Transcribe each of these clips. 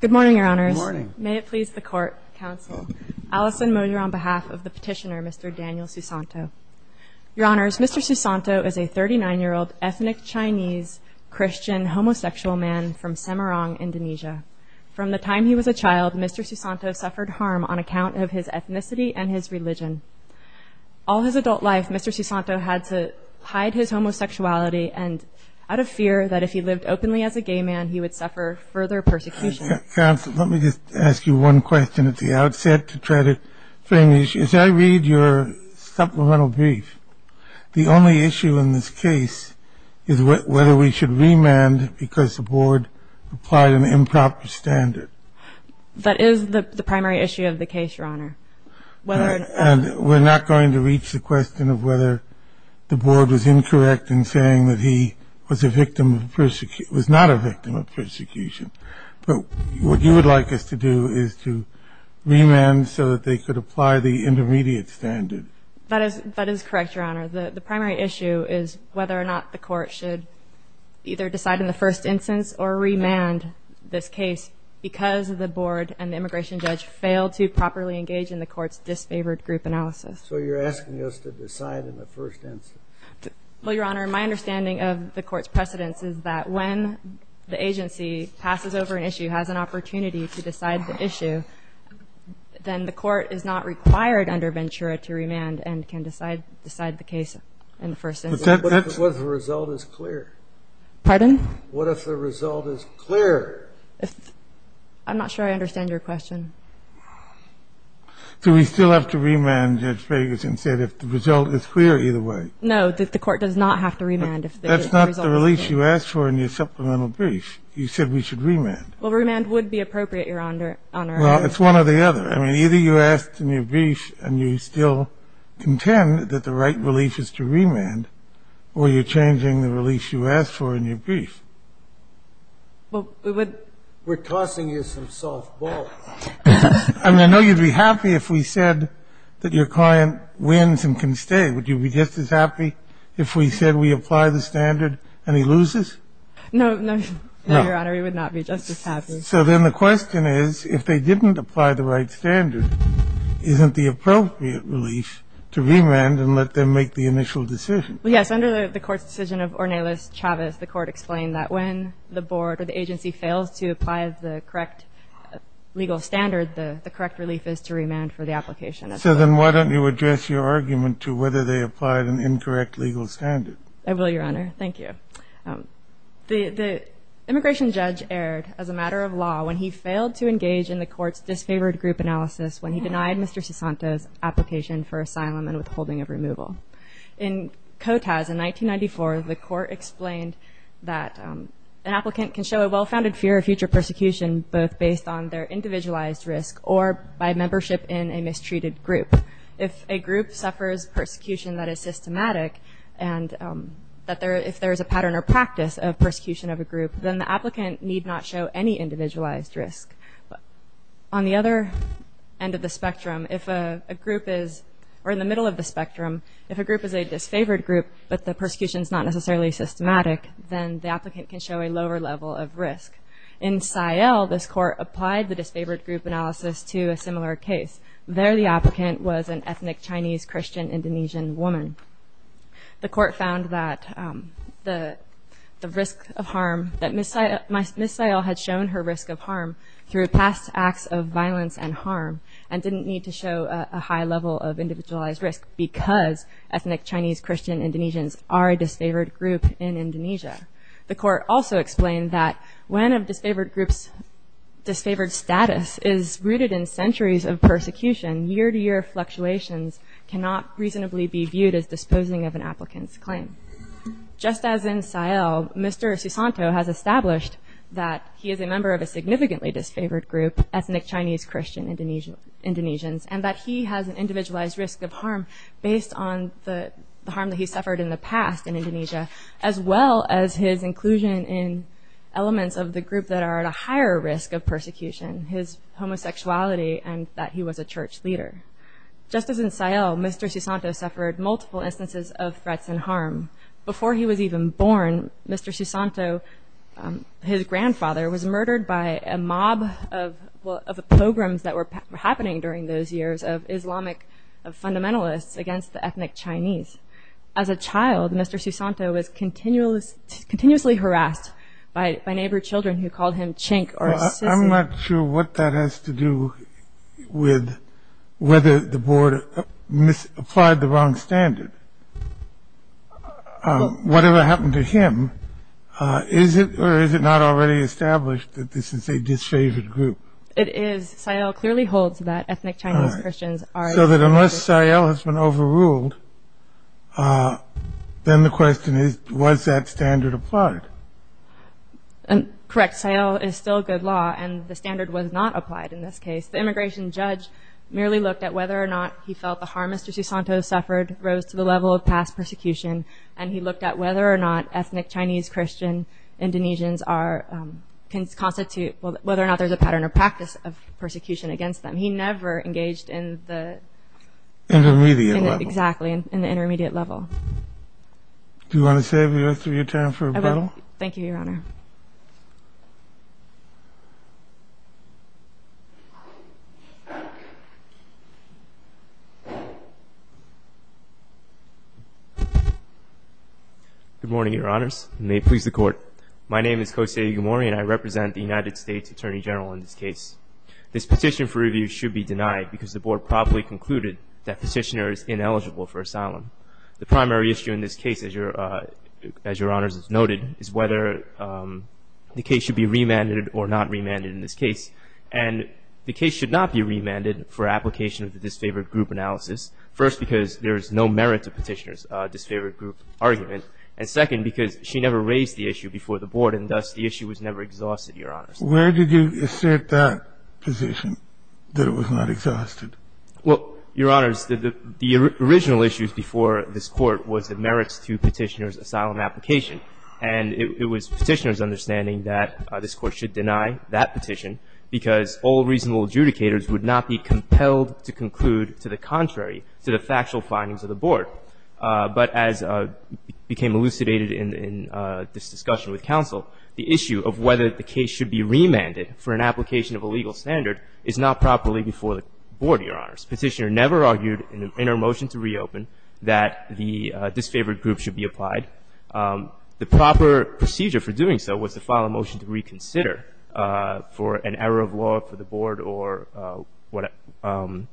Good morning, Your Honors. May it please the Court, Counsel. Alison Moyer on behalf of the petitioner, Mr. Daniel Susanto. Your Honors, Mr. Susanto is a 39-year-old ethnic Chinese Christian homosexual man from Semarang, Indonesia. From the time he was a child, Mr. Susanto suffered harm on account of his ethnicity and his religion. All his adult life, Mr. Susanto had to hide his homosexuality, and out of fear that if he lived openly as a gay man, he would suffer further persecution. Counsel, let me just ask you one question at the outset to try to frame the issue. As I read your supplemental brief, the only issue in this case is whether we should remand because the Board applied an improper standard. That is the primary issue of the case, Your Honor. And we're not going to reach the question of whether the Board was incorrect in saying that he was a victim of persecution, was not a victim of persecution. But what you would like us to do is to remand so that they could apply the intermediate standard. That is correct, Your Honor. The primary issue is whether or not the Court should either decide in the first instance or remand this case because the Board and the immigration judge failed to properly engage in the Court's disfavored group analysis. So you're asking us to decide in the first instance. Well, Your Honor, my understanding of the Court's precedence is that when the agency passes over an issue, has an opportunity to decide the issue, then the Court is not required under Ventura to remand and can decide the case in the first instance. But that's what the result is clear. Pardon? What if the result is clear? I'm not sure I understand your question. Do we still have to remand, Judge Ferguson, if the result is clear either way? No, the Court does not have to remand if the result is clear. That's not the release you asked for in your supplemental brief. You said we should remand. Well, remand would be appropriate, Your Honor. Well, it's one or the other. I mean, either you asked in your brief and you still contend that the right release is to remand or you're changing the release you asked for in your brief. Well, we would – We're tossing you some soft balls. I mean, I know you'd be happy if we said that your client wins and can stay. Would you be just as happy if we said we apply the standard and he loses? No, Your Honor, we would not be just as happy. So then the question is, if they didn't apply the right standard, isn't the appropriate relief to remand and let them make the initial decision? Yes, under the Court's decision of Ornelas Chavez, the Court explained that when the board or the agency fails to apply the correct legal standard, the correct relief is to remand for the application. So then why don't you address your argument to whether they applied an incorrect legal standard? I will, Your Honor. The immigration judge erred as a matter of law when he failed to engage in the Court's disfavored group analysis when he denied Mr. Sesanto's application for asylum and withholding of removal. In COTAS, in 1994, the Court explained that an applicant can show a well-founded fear of future persecution both based on their individualized risk or by membership in a mistreated group. If a group suffers persecution that is systematic and if there is a pattern or practice of persecution of a group, then the applicant need not show any individualized risk. On the other end of the spectrum, if a group is, or in the middle of the spectrum, if a group is a disfavored group but the persecution is not necessarily systematic, then the applicant can show a lower level of risk. In SAIEL, this Court applied the disfavored group analysis to a similar case. There the applicant was an ethnic Chinese Christian Indonesian woman. The Court found that the risk of harm, that Ms. SAIEL had shown her risk of harm through past acts of violence and harm and didn't need to show a high level of individualized risk because ethnic Chinese Christian Indonesians are a disfavored group in Indonesia. The Court also explained that when a disfavored group's disfavored status is rooted in centuries of persecution, year-to-year fluctuations cannot reasonably be viewed as disposing of an applicant's claim. Just as in SAIEL, Mr. Susanto has established that he is a member of a significantly disfavored group, ethnic Chinese Christian Indonesians, and that he has an individualized risk of harm based on the harm that he suffered in the past in Indonesia, as well as his inclusion in elements of the group that are at a higher risk of persecution, his homosexuality, and that he was a church leader. Just as in SAIEL, Mr. Susanto suffered multiple instances of threats and harm. Before he was even born, Mr. Susanto, his grandfather, was murdered by a mob of pogroms that were happening during those years of Islamic fundamentalists against the ethnic Chinese. As a child, Mr. Susanto was continuously harassed by neighbor children who called him chink or sissy. I'm not sure what that has to do with whether the board applied the wrong standard. Whatever happened to him, is it or is it not already established that this is a disfavored group? It is. SAIEL clearly holds that ethnic Chinese Christians are- So that unless SAIEL has been overruled, then the question is, was that standard applied? Correct. SAIEL is still good law, and the standard was not applied in this case. The immigration judge merely looked at whether or not he felt the harm Mr. Susanto suffered rose to the level of past persecution, and he looked at whether or not ethnic Chinese Christian Indonesians can constitute-whether or not there's a pattern or practice of persecution against them. He never engaged in the- Intermediate level. Exactly, in the intermediate level. Do you want to save the rest of your time for rebuttal? I will. Thank you, Your Honor. Good morning, Your Honors, and may it please the Court. My name is Kose Igamori, and I represent the United States Attorney General in this case. This petition for review should be denied because the board probably concluded that petitioner is ineligible for asylum. The primary issue in this case, as Your Honors has noted, is whether the case should be remanded or not remanded in this case. And the case should not be remanded for application of the disfavored group analysis, first because there is no merit to petitioner's disfavored group argument, and second because she never raised the issue before the board, and thus the issue was never exhausted, Your Honors. Where did you assert that position, that it was not exhausted? Well, Your Honors, the original issue before this Court was the merits to petitioner's asylum application. And it was petitioner's understanding that this Court should deny that petition because all reasonable adjudicators would not be compelled to conclude to the contrary to the factual findings of the board. But as became elucidated in this discussion with counsel, the issue of whether the case should be remanded for an application of a legal standard is not properly before the board, Your Honors. Petitioner never argued in her motion to reopen that the disfavored group should be applied. The proper procedure for doing so was to file a motion to reconsider for an error of law for the board or whatever.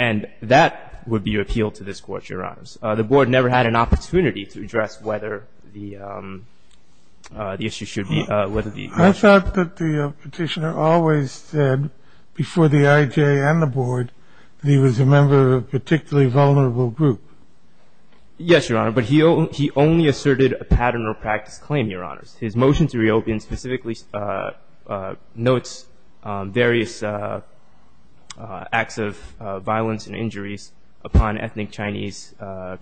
And that would be appealed to this Court, Your Honors. The board never had an opportunity to address whether the issue should be, whether the motion. I thought that the petitioner always said before the IJ and the board that he was a member of a particularly vulnerable group. Yes, Your Honor. But he only asserted a pattern or practice claim, Your Honors. His motion to reopen specifically notes various acts of violence and injuries upon ethnic Chinese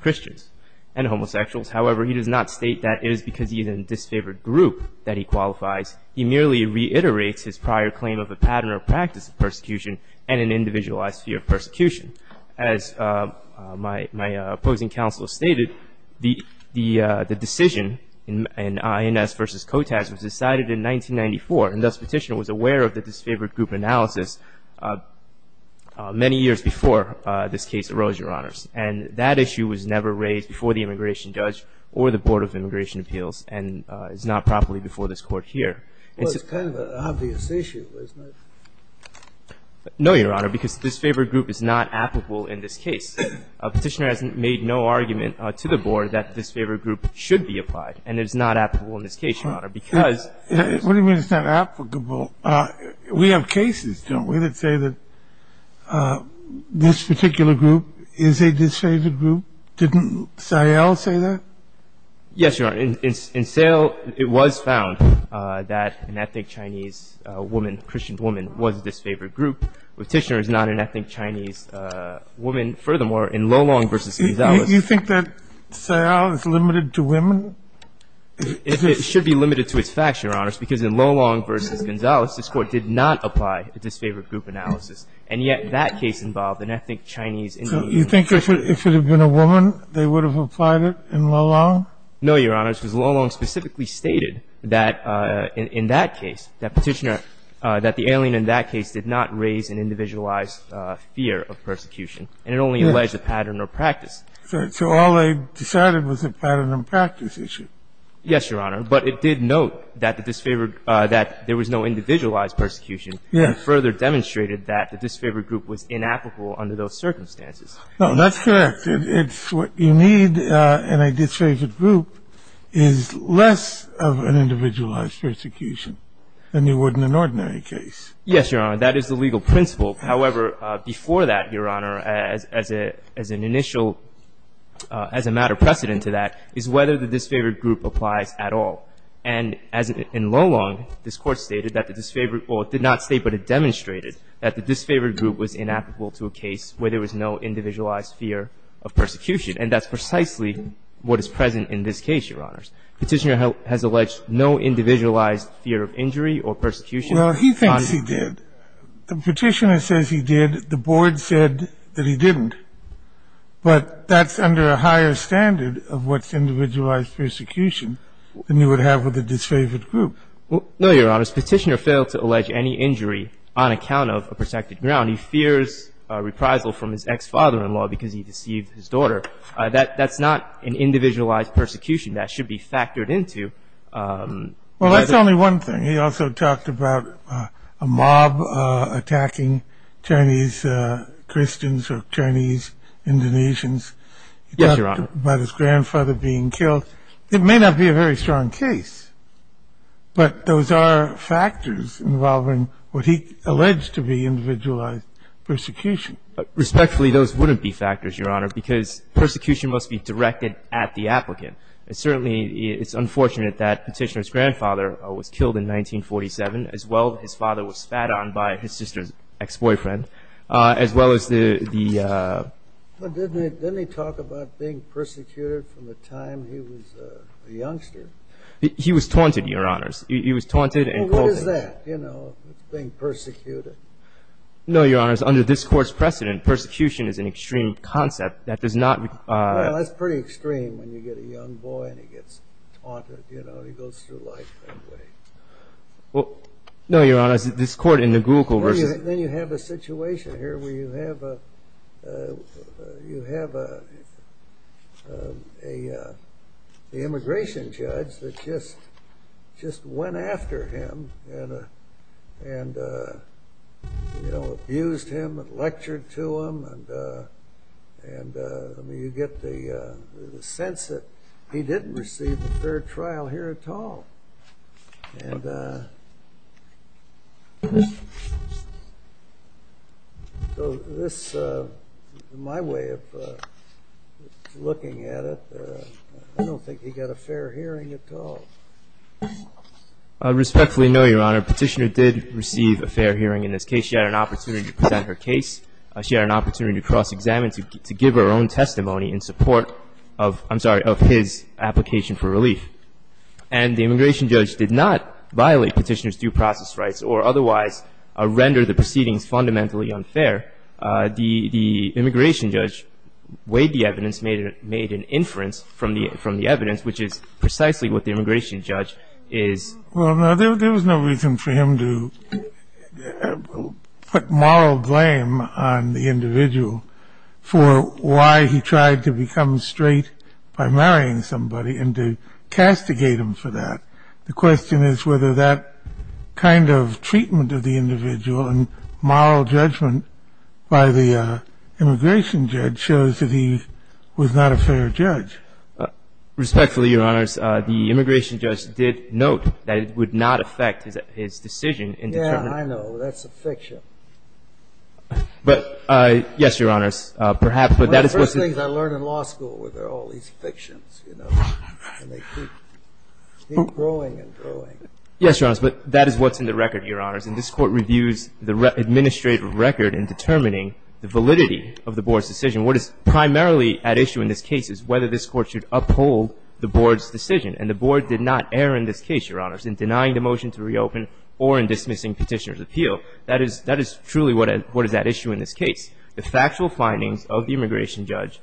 Christians and homosexuals. However, he does not state that it is because he is in a disfavored group that he qualifies. He merely reiterates his prior claim of a pattern or practice of persecution and an individualized fear of persecution. As my opposing counsel stated, the decision in INS v. KOTAS was decided in 1994, and thus Petitioner was aware of the disfavored group analysis many years before this case arose, Your Honors. And that issue was never raised before the immigration judge or the Board of Immigration Well, it's kind of an obvious issue, isn't it? No, Your Honor, because the disfavored group is not applicable in this case. Petitioner has made no argument to the Board that the disfavored group should be applied and is not applicable in this case, Your Honor, because What do you mean it's not applicable? We have cases, don't we, that say that this particular group is a disfavored Didn't Sayle say that? Yes, Your Honor. In Sayle, it was found that an ethnic Chinese woman, Christian woman, was a disfavored group. Petitioner is not an ethnic Chinese woman. Furthermore, in Lolong v. Gonzales You think that Sayle is limited to women? It should be limited to its facts, Your Honors, because in Lolong v. Gonzales, this Court did not apply a disfavored group analysis. And yet that case involved an ethnic Chinese Indian woman. So you think if it had been a woman, they would have applied it in Lolong? No, Your Honors. Because Lolong specifically stated that in that case, that Petitioner, that the alien in that case did not raise an individualized fear of persecution, and it only alleged a pattern or practice. So all they decided was a pattern and practice issue. Yes, Your Honor. But it did note that the disfavored, that there was no individualized persecution. Yes. And further demonstrated that the disfavored group was inapplicable under those circumstances. No, that's correct. It's what you need in a disfavored group is less of an individualized persecution than you would in an ordinary case. Yes, Your Honor. That is the legal principle. However, before that, Your Honor, as an initial, as a matter of precedent to that, is whether the disfavored group applies at all. And as in Lolong, this Court stated that the disfavored, or it did not state, but it demonstrated that the disfavored group was inapplicable to a case where there was no individualized fear of persecution. And that's precisely what is present in this case, Your Honors. Petitioner has alleged no individualized fear of injury or persecution. Well, he thinks he did. The Petitioner says he did. The Board said that he didn't. But that's under a higher standard of what's individualized persecution than you would have with a disfavored group. No, Your Honors. Petitioner failed to allege any injury on account of a protected ground. He fears reprisal from his ex-father-in-law because he deceived his daughter. That's not an individualized persecution. That should be factored into. Well, that's only one thing. He also talked about a mob attacking Chinese Christians or Chinese Indonesians. Yes, Your Honor. He talked about his grandfather being killed. It may not be a very strong case, but those are factors involving what he alleged to be individualized persecution. Respectfully, those wouldn't be factors, Your Honor, because persecution must be directed at the applicant. And certainly it's unfortunate that Petitioner's grandfather was killed in 1947, as well as his father was spat on by his sister's ex-boyfriend, as well as the ---- Didn't he talk about being persecuted from the time he was a youngster? He was taunted, Your Honors. He was taunted and culted. Well, what is that, you know, being persecuted? No, Your Honors. Under this Court's precedent, persecution is an extreme concept. That does not ---- Well, that's pretty extreme when you get a young boy and he gets taunted. You know, he goes through life that way. Well, no, Your Honors. This Court in the Google versus ---- Then you have a situation here where you have an immigration judge that just went after him and, you know, abused him and lectured to him, and you get the sense that he didn't receive a fair trial here at all. And this is my way of looking at it. I don't think he got a fair hearing at all. Respectfully, no, Your Honor. Petitioner did receive a fair hearing in this case. She had an opportunity to present her case. She had an opportunity to cross-examine, to give her own testimony in support of, I'm sorry, of his application for relief. And the immigration judge did not violate petitioner's due process rights or otherwise render the proceedings fundamentally unfair. The immigration judge weighed the evidence, made an inference from the evidence, which is precisely what the immigration judge is ---- Well, no, there was no reason for him to put moral blame on the individual for why he tried to become straight by marrying somebody and to castigate him for that. The question is whether that kind of treatment of the individual and moral judgment by the immigration judge shows that he was not a fair judge. Respectfully, Your Honors, the immigration judge did note that it would not affect his decision in determining ---- Yeah, I know. That's a fiction. But, yes, Your Honors, perhaps, but that is what's ---- One of the first things I learned in law school was there are all these fictions, you know, and they keep growing and growing. Yes, Your Honors, but that is what's in the record, Your Honors, and this Court reviews the administrative record in determining the validity of the Board's decision. What is primarily at issue in this case is whether this Court should uphold the Board's decision, and the Board did not err in this case, Your Honors, in denying the motion to reopen or in dismissing petitioner's appeal. That is truly what is at issue in this case. The factual findings of the immigration judge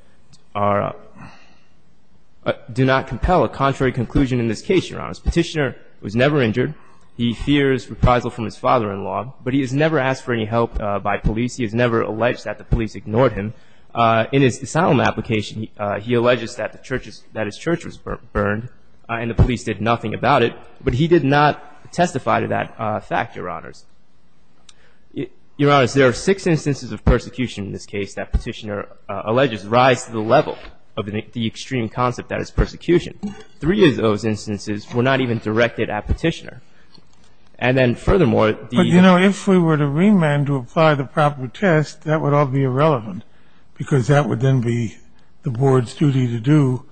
do not compel a contrary conclusion in this case, Your Honors. Petitioner was never injured. He fears reprisal from his father-in-law, but he has never asked for any help by police. He has never alleged that the police ignored him. In his asylum application, he alleges that his church was burned, and the police did nothing about it, but he did not testify to that fact, Your Honors. Your Honors, there are six instances of persecution in this case that petitioner alleges rise to the level of the extreme concept that is persecution. Three of those instances were not even directed at petitioner. And then furthermore, the ---- But, you know, if we were to remand to apply the proper test, that would all be irrelevant because that would then be the Board's duty to do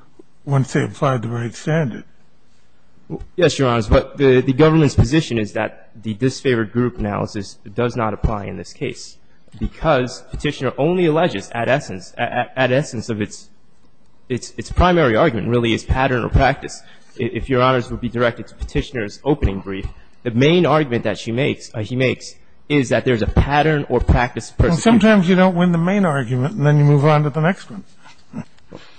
once they applied the right standard. Yes, Your Honors. But the government's position is that the disfavored group analysis does not apply in this case because petitioner only alleges at essence, at essence of its primary argument, really, is pattern or practice. If Your Honors would be directed to petitioner's opening brief, the main argument that she makes, he makes, is that there is a pattern or practice of persecution. Sometimes you don't win the main argument, and then you move on to the next one.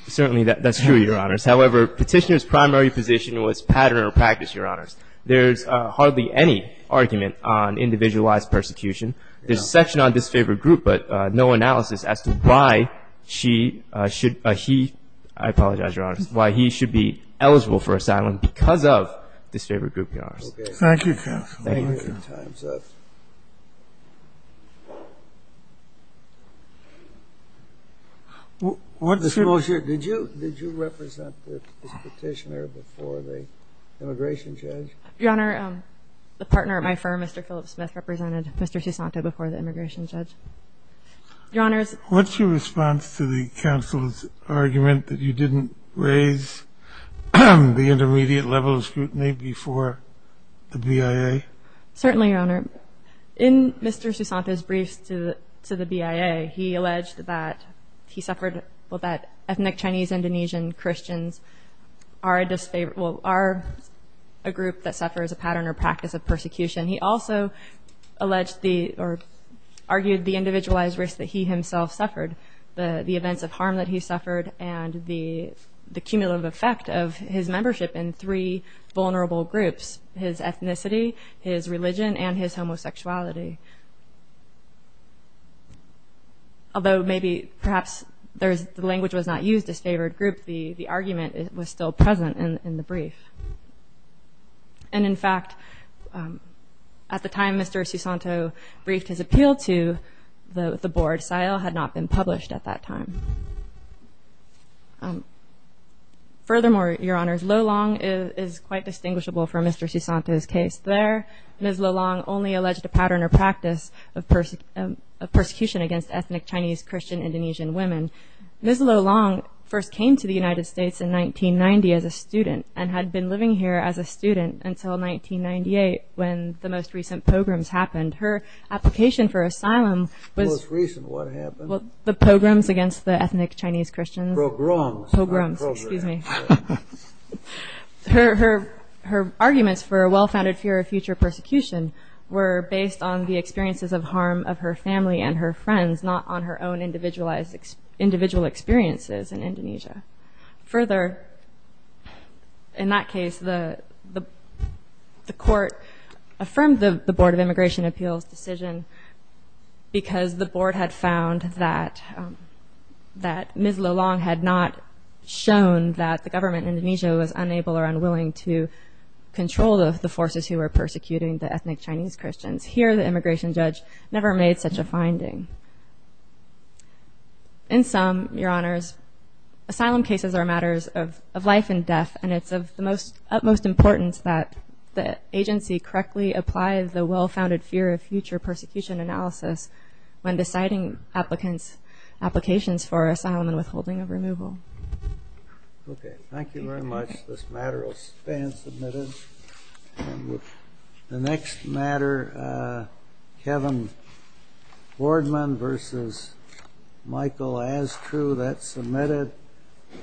Certainly, that's true, Your Honors. However, petitioner's primary position was pattern or practice, Your Honors. There's hardly any argument on individualized persecution. There's a section on disfavored group, but no analysis as to why she should ---- he, I apologize, Your Honors, why he should be eligible for asylum because of disfavored group, Your Honors. Thank you, counsel. Thank you. Did you represent this petitioner before the immigration judge? Your Honor, the partner at my firm, Mr. Phillips Smith, represented Mr. Susanto before the immigration judge. Your Honors. What's your response to the counsel's argument that you didn't raise the intermediate level of scrutiny before the BIA? Certainly, Your Honor. In Mr. Susanto's briefs to the BIA, he alleged that he suffered, well, that ethnic Chinese-Indonesian Christians are a group that suffers a pattern or practice of persecution. He also alleged the, or argued the individualized risk that he himself suffered, the events of harm that he suffered, and the cumulative effect of his membership in three vulnerable groups. His ethnicity, his religion, and his homosexuality. Although maybe, perhaps, the language was not used, disfavored group, the argument was still present in the brief. And, in fact, at the time Mr. Susanto briefed his appeal to the board, SIL had not been published at that time. Furthermore, Your Honors, Lolong is quite distinguishable from Mr. Susanto's case. There, Ms. Lolong only alleged a pattern or practice of persecution against ethnic Chinese-Christian-Indonesian women. Ms. Lolong first came to the United States in 1990 as a student, and had been living here as a student until 1998 when the most recent pogroms happened. Her application for asylum was- The most recent. What happened? The pogroms against the ethnic Chinese-Christians. Pogroms. Pogroms, excuse me. Her arguments for a well-founded fear of future persecution were based on the experiences of harm of her family and her friends, not on her own individual experiences in Indonesia. Further, in that case, the court affirmed the Board of Immigration Appeals' decision because the Board had found that Ms. Lolong had not shown that the government in Indonesia was unable or unwilling to control the forces who were persecuting the ethnic Chinese-Christians. Here, the immigration judge never made such a finding. In sum, Your Honors, asylum cases are matters of life and death, and it's of the utmost importance that the agency correctly apply the well-founded fear of future persecution analysis when deciding applicants' applications for asylum and withholding of removal. Okay. Thank you very much. This matter will stand submitted. The next matter, Kevin Boardman v. Michael Astru, that's submitted.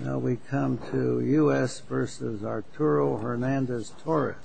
Now we come to U.S. v. Arturo Hernandez Torres.